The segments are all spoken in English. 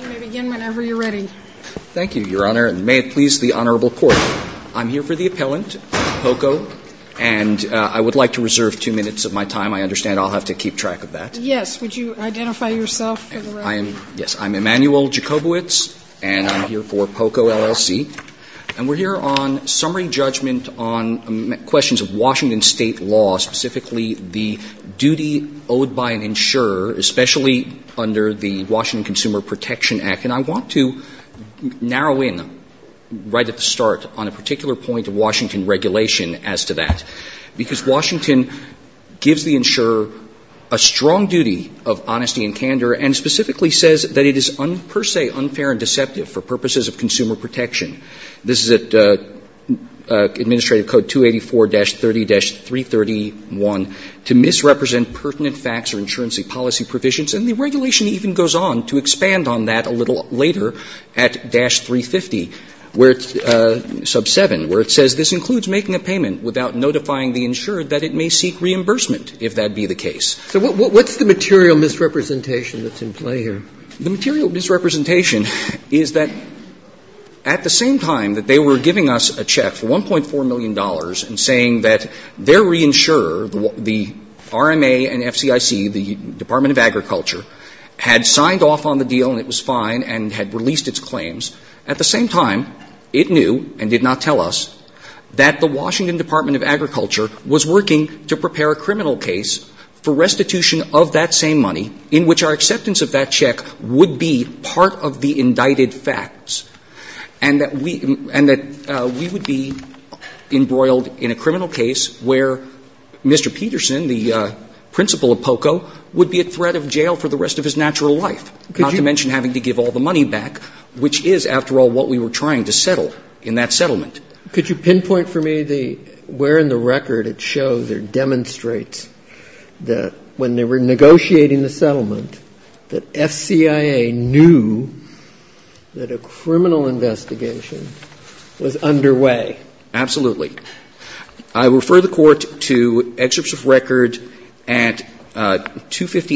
You may begin whenever you're ready. Thank you, Your Honor, and may it please the Honorable Court, I'm here for the appellant, Poco, and I would like to reserve two minutes of my time. I understand I'll have to keep track of that. Yes, would you identify yourself for the record? Yes, I'm Emanuel Jakobowitz, and I'm here for Poco, LLC, and we're here on summary judgment on questions of Washington State law, specifically the duty owed by an insurer, especially under the Washington Consumer Protection Act. And I want to narrow in right at the start on a particular point of Washington regulation as to that, because Washington gives the insurer a strong duty of honesty and candor and specifically says that it is per se unfair and deceptive for purposes of consumer protection. This is at Administrative Code 284-30-331, to misrepresent pertinent facts or insurance policy provisions, and the regulation even goes on to expand on that a little later at dash 350, where it's sub 7, where it says this includes making a payment without notifying the insured that it may seek reimbursement, if that be the case. So what's the material misrepresentation that's in play here? The material misrepresentation is that at the same time that they were giving us a check for $1.4 million and saying that their reinsurer, the RMA and FCIC, the Department of Agriculture, had signed off on the deal and it was fine and had released its claims. At the same time, it knew and did not tell us that the Washington Department of Agriculture was working to prepare a criminal case for restitution of that same money, in which our acceptance of that check would be part of the indicted facts, and that we would be embroiled in a criminal case where Mr. Peterson, the principal of POCO, would be at threat of jail for the rest of his natural life, not to mention having to give all the money back, which is, after all, what we were trying to settle in that settlement. Could you pinpoint for me the where in the record it shows or demonstrates that when they were negotiating the settlement, that FCIA knew that a criminal investigation was underway? Absolutely. I refer the Court to excerpts of record at 258,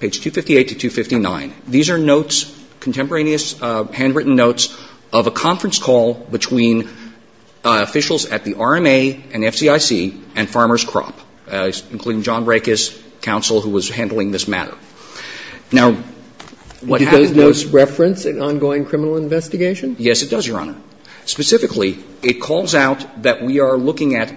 page 258 to 259. These are notes, contemporaneous handwritten notes of a conference call between officials at the RMA and FCIC and Farmer's Crop, including John Rekus, counsel who was handling this matter. Now, what happens to those notes? Do those notes reference an ongoing criminal investigation? Yes, it does, Your Honor. Specifically, it calls out that we are looking at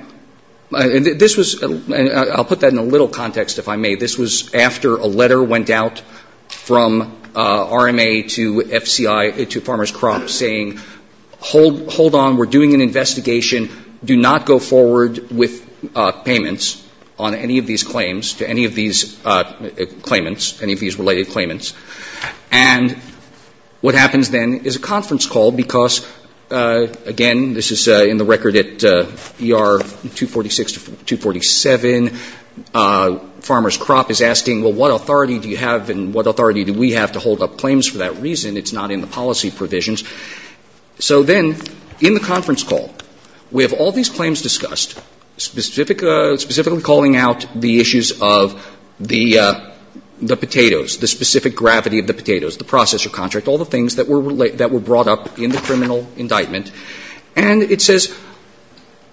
this was, and I'll put that in a little context if I may, this was after a letter went out from RMA to FCI, to Farmer's Crop, saying, hold on, we're doing an investigation, do not go forward with payments on any of these claims to any of these claimants, any of these related claimants. And what happens then is a conference call because, again, this is in the record at ER 246 to 247, Farmer's Crop is asking, well, what authority do you have and what authority do we have to hold up claims for that reason? It's not in the policy provisions. So then, in the conference call, we have all these claims discussed, specifically calling out the issues of the potatoes, the specific gravity of the potatoes, the processor contract, all the things that were brought up in the criminal indictment, and it says,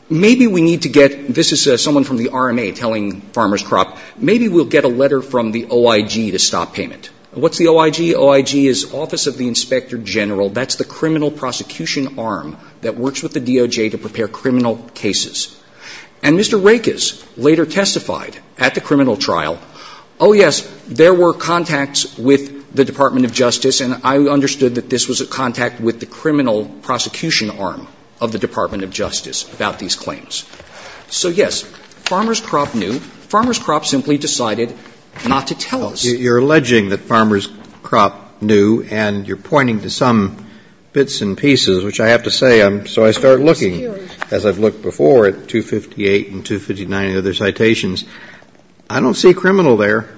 maybe we need to get, this is someone from the RMA telling Farmer's Crop, maybe we'll get a letter from the OIG to stop payment. What's the OIG? The OIG is Office of the Inspector General. That's the criminal prosecution arm that works with the DOJ to prepare criminal cases. And Mr. Rakes later testified at the criminal trial, oh, yes, there were contacts with the Department of Justice, and I understood that this was a contact with the criminal prosecution arm of the Department of Justice about these claims. So, yes, Farmer's Crop knew. Farmer's Crop simply decided not to tell us. You're alleging that Farmer's Crop knew, and you're pointing to some bits and pieces, which I have to say, so I start looking, as I've looked before, at 258 and 259 and other citations. I don't see criminal there.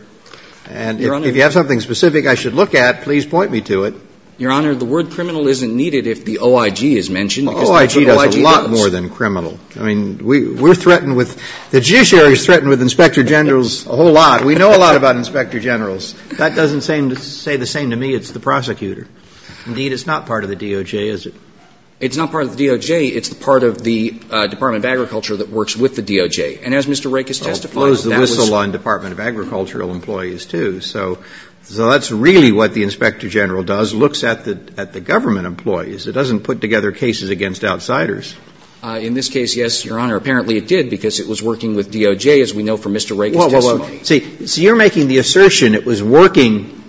And if you have something specific I should look at, please point me to it. Your Honor, the word criminal isn't needed if the OIG is mentioned. The OIG does a lot more than criminal. I mean, we're threatened with, the judiciary is threatened with Inspector General's a whole lot. We know a lot about Inspector General's. That doesn't seem to say the same to me. It's the prosecutor. Indeed, it's not part of the DOJ, is it? It's not part of the DOJ. It's part of the Department of Agriculture that works with the DOJ. And as Mr. Rakes testified, that was the whistle-blower in the Department of Agricultural Employees, too. So that's really what the Inspector General does, looks at the government employees. It doesn't put together cases against outsiders. In this case, yes, Your Honor. Apparently it did because it was working with DOJ, as we know from Mr. Rakes' testimony. See, you're making the assertion it was working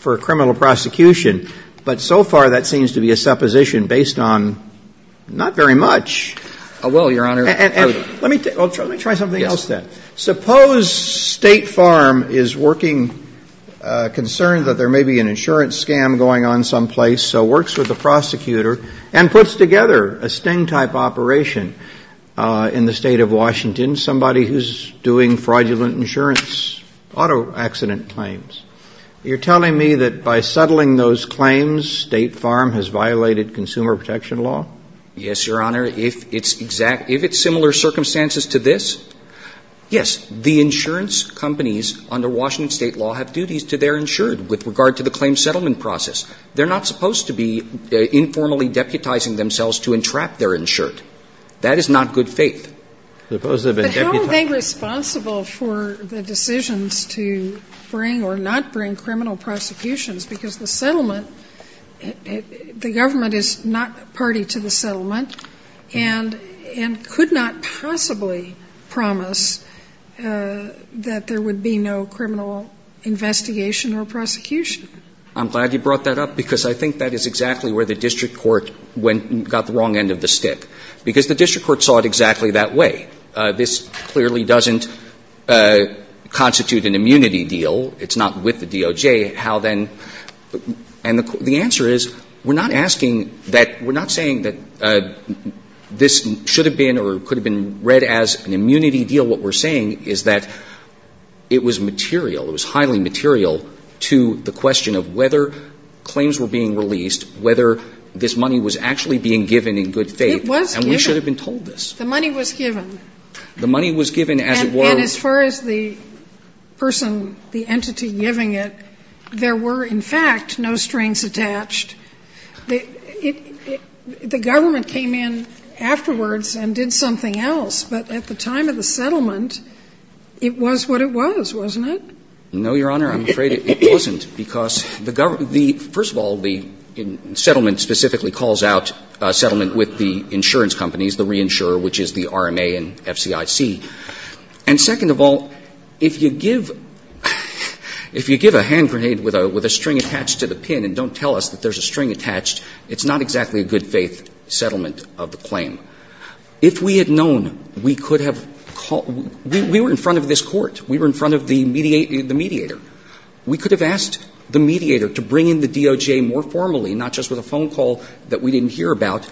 for criminal prosecution, but so far that seems to be a supposition based on not very much. I will, Your Honor. Let me try something else then. Suppose State Farm is working, concerned that there may be an insurance scam going on someplace, so works with the prosecutor and puts together a sting-type operation in the State of Washington, somebody who's doing fraudulent insurance, auto accident claims. You're telling me that by settling those claims, State Farm has violated consumer protection law? Yes, Your Honor. If it's similar circumstances to this, yes, the insurance companies under Washington State law have duties to their insured with regard to the claim settlement process. They're not supposed to be informally deputizing themselves to entrap their insured. That is not good faith. But how are they responsible for the decisions to bring or not bring criminal prosecutions? Because the settlement, the government is not party to the settlement and could not possibly promise that there would be no criminal investigation or prosecution. I'm glad you brought that up because I think that is exactly where the district court got the wrong end of the stick. Because the district court saw it exactly that way. This clearly doesn't constitute an immunity deal. It's not with the DOJ. How then – and the answer is, we're not asking that – we're not saying that this should have been or could have been read as an immunity deal. What we're saying is that it was material. It was highly material to the question of whether claims were being released, whether this money was actually being given in good faith. It was given. And we should have been told this. The money was given. The money was given as it was. And as far as the person, the entity giving it, there were, in fact, no strings attached. The government came in afterwards and did something else. But at the time of the settlement, it was what it was, wasn't it? No, Your Honor. I'm afraid it wasn't. First of all, the settlement specifically calls out a settlement with the insurance companies, the reinsurer, which is the RMA and FCIC. And second of all, if you give a hand grenade with a string attached to the pin and don't tell us that there's a string attached, it's not exactly a good faith settlement of the claim. If we had known, we could have called – we were in front of this Court. We were in front of the mediator. We could have asked the mediator to bring in the DOJ more formally, not just with a phone call that we didn't hear about,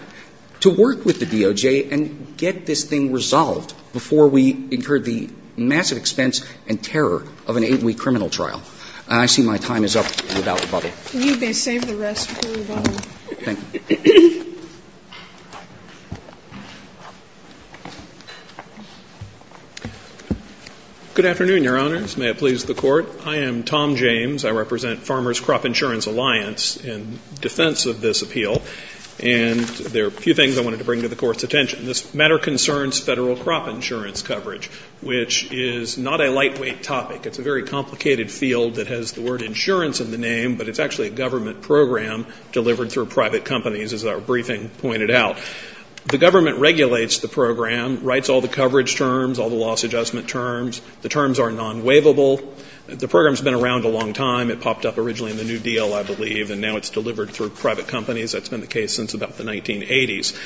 to work with the DOJ and get this thing resolved before we incurred the massive expense and terror of an eight-week criminal trial. And I see my time is up. We're about to bubble. You may save the rest for the bubble. Thank you. Good afternoon, Your Honors. May it please the Court. I am Tom James. I represent Farmers' Crop Insurance Alliance in defense of this appeal. And there are a few things I wanted to bring to the Court's attention. This matter concerns Federal crop insurance coverage, which is not a lightweight topic. It's a very complicated field that has the word insurance in the name, but it's actually a government program delivered through private companies, as our briefing pointed out. The government regulates the program, writes all the coverage terms, all the loss adjustment terms. The terms are non-waivable. The program has been around a long time. It popped up originally in the New Deal, I believe, and now it's delivered through private companies. That's been the case since about the 1980s.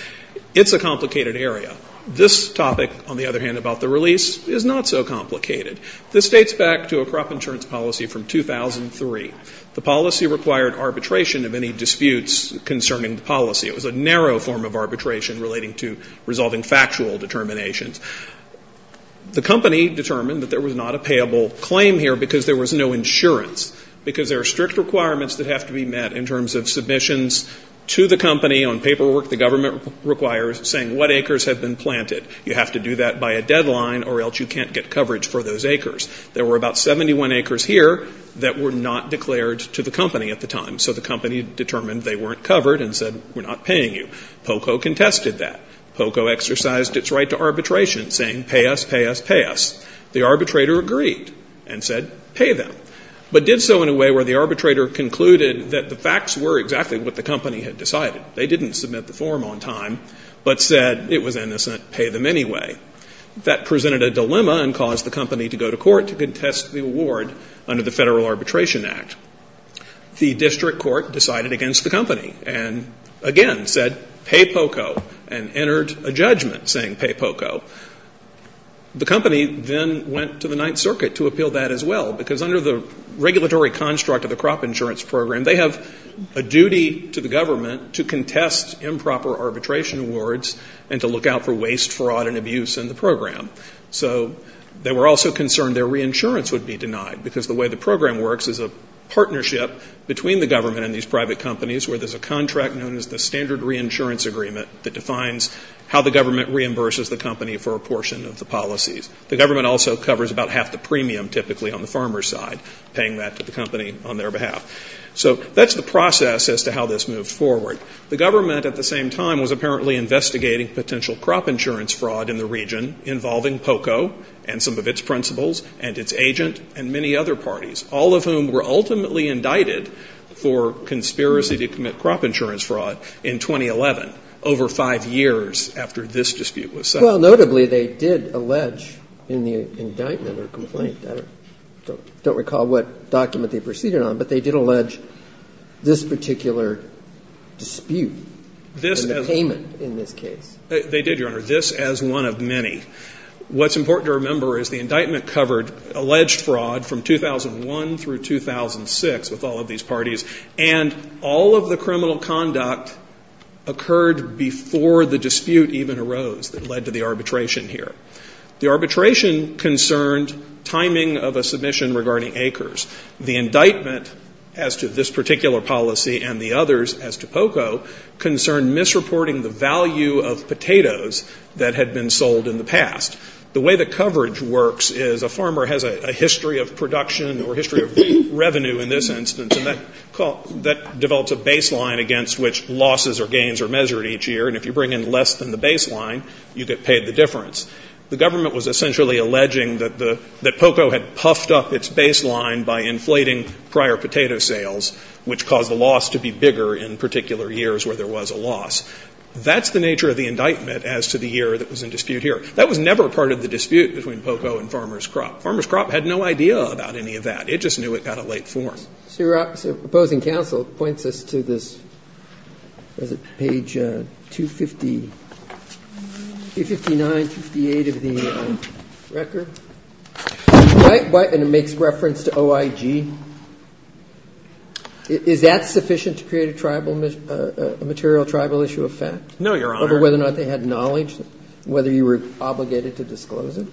It's a complicated area. This topic, on the other hand, about the release, is not so complicated. This dates back to a crop insurance policy from 2003. The policy required arbitration of any disputes concerning the policy. It was a narrow form of arbitration relating to resolving factual determinations. The company determined that there was not a payable claim here because there was no insurance, because there are strict requirements that have to be met in terms of submissions to the company on paperwork the government requires saying what acres have been planted. You have to do that by a deadline or else you can't get coverage for those acres. There were about 71 acres here that were not declared to the company at the time, so the company determined they weren't covered and said, we're not paying you. POCO contested that. POCO exercised its right to arbitration saying, pay us, pay us, pay us. The arbitrator agreed and said, pay them, but did so in a way where the arbitrator concluded that the facts were exactly what the company had decided. They didn't submit the form on time but said it was innocent, pay them anyway. That presented a dilemma and caused the company to go to court to contest the award under the Federal Arbitration Act. The district court decided against the company and, again, said, pay POCO and entered a judgment saying pay POCO. The company then went to the Ninth Circuit to appeal that as well because under the regulatory construct of the crop insurance program, they have a duty to the government to contest improper arbitration awards and to look out for waste, fraud, and abuse in the program. So they were also concerned their reinsurance would be denied because the way the program works is a partnership between the government and these private companies where there's a contract known as the standard reinsurance agreement that defines how the government reimburses the company for a portion of the policies. The government also covers about half the premium typically on the farmer's side, paying that to the company on their behalf. So that's the process as to how this moved forward. The government at the same time was apparently investigating potential crop insurance fraud in the region involving POCO and some of its principals and its agent and many other parties, all of whom were ultimately indicted for conspiracy to commit crop insurance fraud in 2011, over five years after this dispute was settled. Well, notably, they did allege in the indictment or complaint, I don't recall what document they proceeded on, but they did allege this particular dispute and the payment in this case. They did, Your Honor, this as one of many. What's important to remember is the indictment covered alleged fraud from 2001 through 2006 with all of these parties, and all of the criminal conduct occurred before the dispute even arose that led to the arbitration here. The arbitration concerned timing of a submission regarding acres. The indictment as to this particular policy and the others as to POCO concerned misreporting the value of potatoes that had been sold in the past. The way the coverage works is a farmer has a history of production or history of revenue in this instance, and that develops a baseline against which losses or gains are measured each year. And if you bring in less than the baseline, you get paid the difference. The government was essentially alleging that POCO had puffed up its baseline by inflating prior potato sales, which caused the loss to be bigger in particular years where there was a loss. That's the nature of the indictment as to the year that was in dispute here. That was never part of the dispute between POCO and Farmer's Crop. Farmer's Crop had no idea about any of that. It just knew it got a late form. So your opposing counsel points us to this page 259, 258 of the record, and it makes reference to OIG. Is that sufficient to create a material tribal issue of fact? No, Your Honor. Do you remember whether or not they had knowledge, whether you were obligated to disclose it?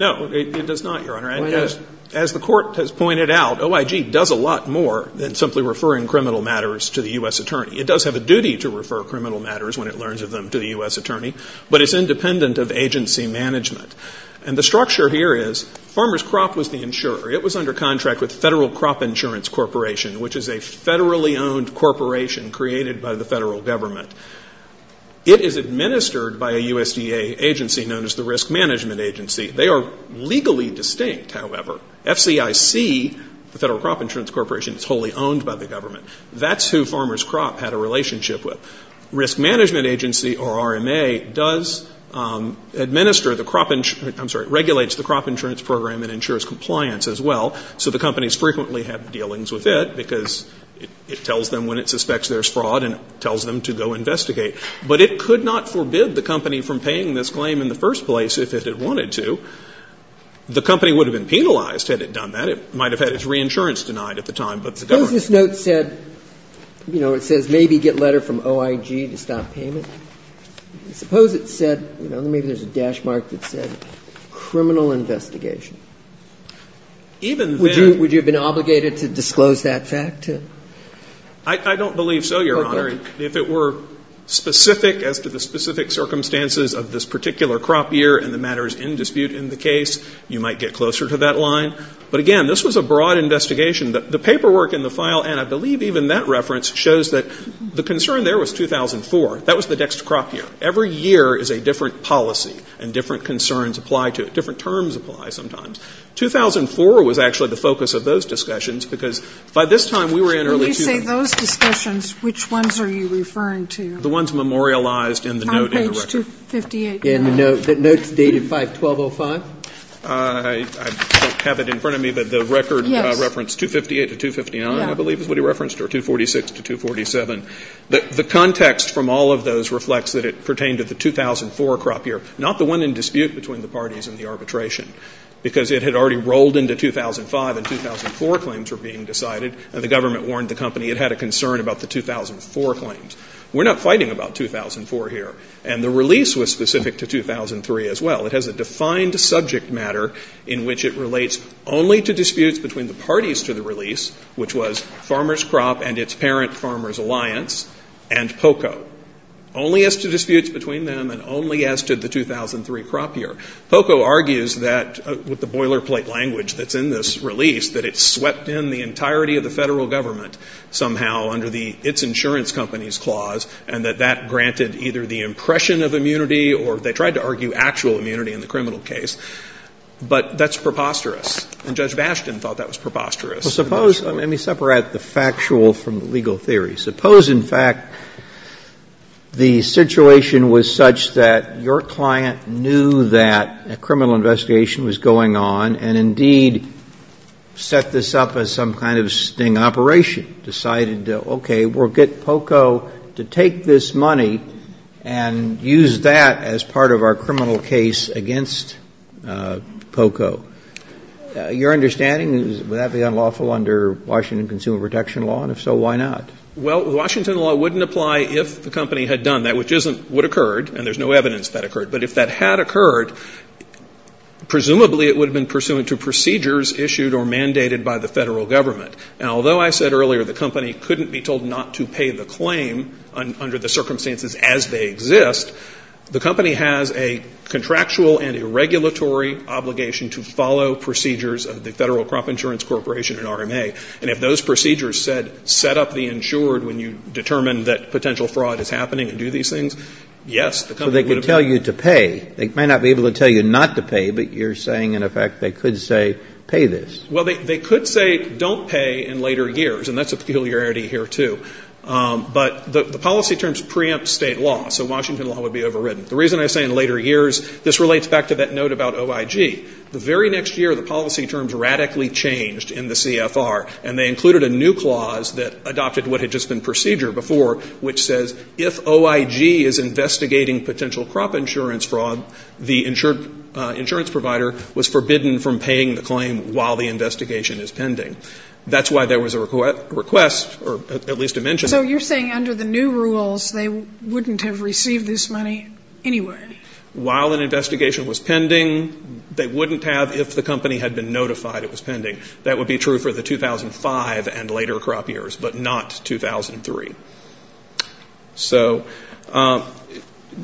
No, it does not, Your Honor. Why not? As the court has pointed out, OIG does a lot more than simply referring criminal matters to the U.S. attorney. It does have a duty to refer criminal matters when it learns of them to the U.S. attorney, but it's independent of agency management. And the structure here is Farmer's Crop was the insurer. It was under contract with Federal Crop Insurance Corporation, which is a federally owned corporation created by the federal government. It is administered by a USDA agency known as the Risk Management Agency. They are legally distinct, however. FCIC, the Federal Crop Insurance Corporation, is wholly owned by the government. That's who Farmer's Crop had a relationship with. Risk Management Agency, or RMA, does administer the crop insurance, I'm sorry, regulates the crop insurance program and ensures compliance as well. So the companies frequently have dealings with it because it tells them when it But it could not forbid the company from paying this claim in the first place if it had wanted to. The company would have been penalized had it done that. It might have had its reinsurance denied at the time, but the government Suppose this note said, you know, it says maybe get letter from OIG to stop payment. Suppose it said, you know, maybe there's a dash mark that said criminal investigation. Even then Would you have been obligated to disclose that fact? I don't believe so, Your Honor. If it were specific as to the specific circumstances of this particular crop year and the matters in dispute in the case, you might get closer to that line. But again, this was a broad investigation. The paperwork in the file and I believe even that reference shows that the concern there was 2004. That was the next crop year. Every year is a different policy and different concerns apply to it. Different terms apply sometimes. 2004 was actually the focus of those discussions because by this time we were in Discussions. Which ones are you referring to? The ones memorialized in the note in the record. On page 258. The notes dated 512.05. I don't have it in front of me, but the record referenced 258 to 259, I believe is what he referenced, or 246 to 247. The context from all of those reflects that it pertained to the 2004 crop year, not the one in dispute between the parties in the arbitration, because it had already rolled into 2005 and 2004 claims were being decided and the government warned the company it had a concern about the 2004 claims. We're not fighting about 2004 here. And the release was specific to 2003 as well. It has a defined subject matter in which it relates only to disputes between the parties to the release, which was Farmers' Crop and its parent Farmers' Alliance and POCO. Only as to disputes between them and only as to the 2003 crop year. POCO argues that, with the boilerplate language that's in this release, that it insurance company's clause and that that granted either the impression of immunity or they tried to argue actual immunity in the criminal case. But that's preposterous. And Judge Bastian thought that was preposterous. Suppose, let me separate the factual from the legal theory. Suppose, in fact, the situation was such that your client knew that a criminal investigation was going on and, indeed, set this up as some kind of sting operation. Decided, okay, we'll get POCO to take this money and use that as part of our criminal case against POCO. Your understanding is would that be unlawful under Washington Consumer Protection Law? And if so, why not? Well, the Washington law wouldn't apply if the company had done that, which isn't what occurred. And there's no evidence that occurred. But if that had occurred, presumably it would have been pursuant to procedures issued or mandated by the Federal Government. And although I said earlier the company couldn't be told not to pay the claim under the circumstances as they exist, the company has a contractual and a regulatory obligation to follow procedures of the Federal Crop Insurance Corporation and RMA. And if those procedures said set up the insured when you determined that potential fraud is happening and do these things, yes, the company would have been. So they could tell you to pay. They might not be able to tell you not to pay, but you're saying, in effect, they could say pay this. Well, they could say don't pay in later years. And that's a peculiarity here, too. But the policy terms preempt state law. So Washington law would be overridden. The reason I say in later years, this relates back to that note about OIG. The very next year, the policy terms radically changed in the CFR. And they included a new clause that adopted what had just been procedure before, which says if OIG is investigating potential crop insurance fraud, the insurance provider was forbidden from paying the claim while the investigation is pending. That's why there was a request, or at least a mention of it. So you're saying under the new rules, they wouldn't have received this money anyway. While an investigation was pending, they wouldn't have if the company had been notified it was pending. That would be true for the 2005 and later crop years, but not 2003. So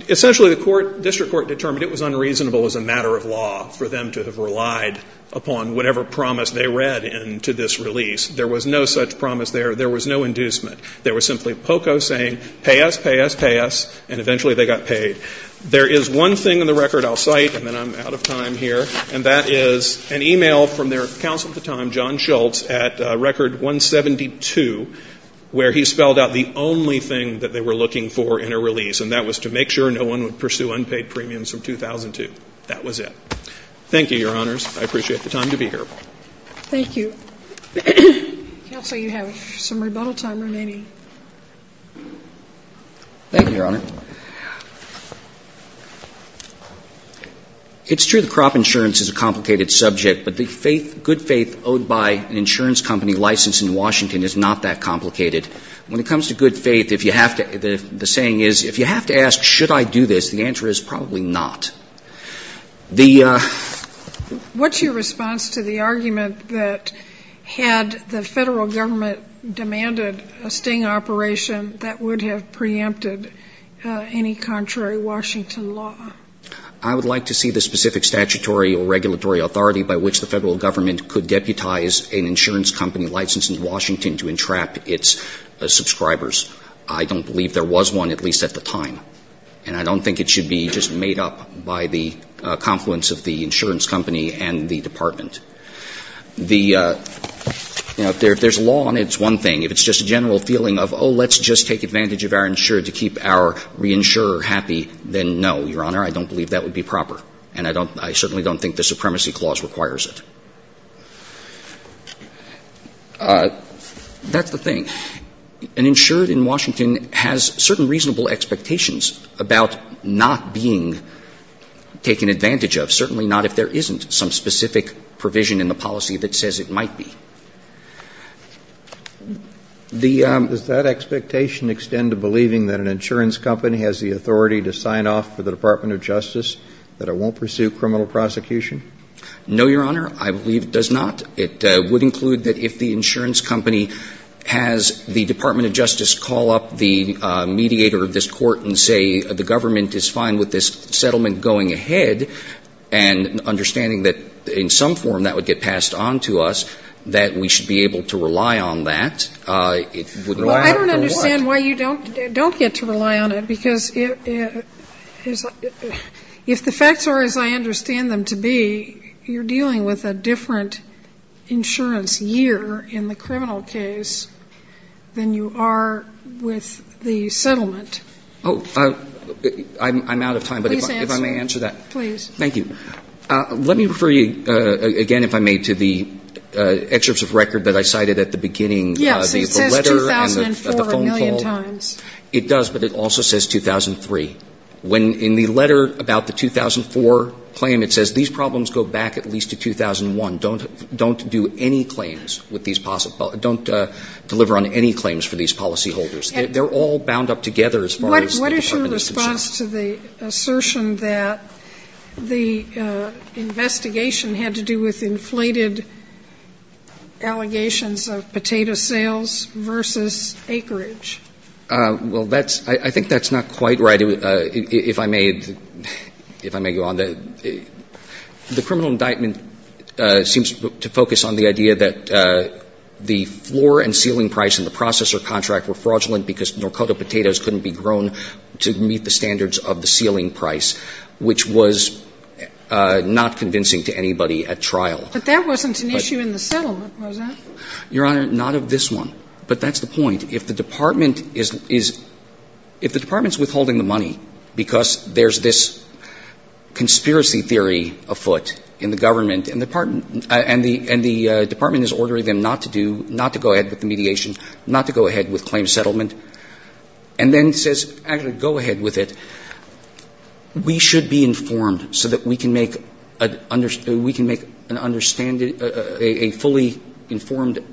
essentially the court, district court, determined it was unreasonable as a matter of law for them to have relied upon whatever promise they read into this release. There was no such promise there. There was no inducement. There was simply POCO saying pay us, pay us, pay us, and eventually they got paid. There is one thing in the record I'll cite, and then I'm out of time here, and that is an e-mail from their counsel at the time, John Schultz, at record 172, where he spelled out the only thing that they were looking for in a release, and that was to make sure no one would pursue unpaid premiums from 2002. That was it. Thank you, Your Honors. I appreciate the time to be here. Thank you. Counsel, you have some rebuttal time remaining. Thank you, Your Honor. It's true that crop insurance is a complicated subject, but the faith, good faith owed by an insurance company licensed in Washington is not that complicated. When it comes to good faith, if you have to, the saying is if you have to ask should I do this, the answer is probably not. What's your response to the argument that had the Federal Government demanded a sting operation, that would have preempted any contrary Washington law? I would like to see the specific statutory or regulatory authority by which the Federal Government could deputize an insurance company licensed in Washington to entrap its subscribers. I don't believe there was one, at least at the time, and I don't think it should be just made up by the confluence of the insurance company and the Department. The – you know, if there's law on it, it's one thing. If it's just a general feeling of, oh, let's just take advantage of our insurer to keep our reinsurer happy, then no, Your Honor, I don't believe that would be proper, and I don't – I certainly don't think the Supremacy Clause requires it. That's the thing. An insurer in Washington has certain reasonable expectations about not being taken advantage of, certainly not if there isn't some specific provision in the policy that says it might be. The – Does that expectation extend to believing that an insurance company has the authority to sign off for the Department of Justice, that it won't pursue criminal prosecution? No, Your Honor. I believe it does not. It would include that if the insurance company has the Department of Justice call up the mediator of this court and say the government is fine with this settlement going ahead, and understanding that in some form that would get passed on to us, that we should be able to rely on that. It would rely on it for what? Well, I don't understand why you don't get to rely on it, because if the facts are as I understand them to be, you're dealing with a different insurance year in the criminal case than you are with the settlement. Oh, I'm out of time. Please answer. If I may answer that. Please. Thank you. Let me refer you, again, if I may, to the excerpts of record that I cited at the beginning. Yes. It says 2004 a million times. It does, but it also says 2003. When in the letter about the 2004 claim, it says these problems go back at least to 2001. Don't do any claims with these possible don't deliver on any claims for these policy holders. They're all bound up together as far as the Department of Justice. What is your response to the assertion that the investigation had to do with inflated allegations of potato sales versus acreage? Well, that's – I think that's not quite right. If I may – if I may go on. The criminal indictment seems to focus on the idea that the floor and ceiling price in the processor contract were fraudulent because Norcoto potatoes couldn't be grown to meet the standards of the ceiling price, which was not convincing to anybody at trial. But that wasn't an issue in the settlement, was it? Your Honor, not of this one. But that's the point. If the department is withholding the money because there's this conspiracy theory afoot in the government, and the department is ordering them not to do – not to go ahead with the mediation, not to go ahead with claim settlement, and then says, actually, go ahead with it, we should be informed so that we can make an – we can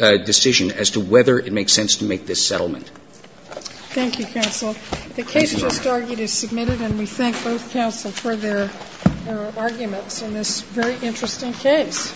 Thank you, counsel. The case just argued is submitted, and we thank both counsel for their arguments in this very interesting case.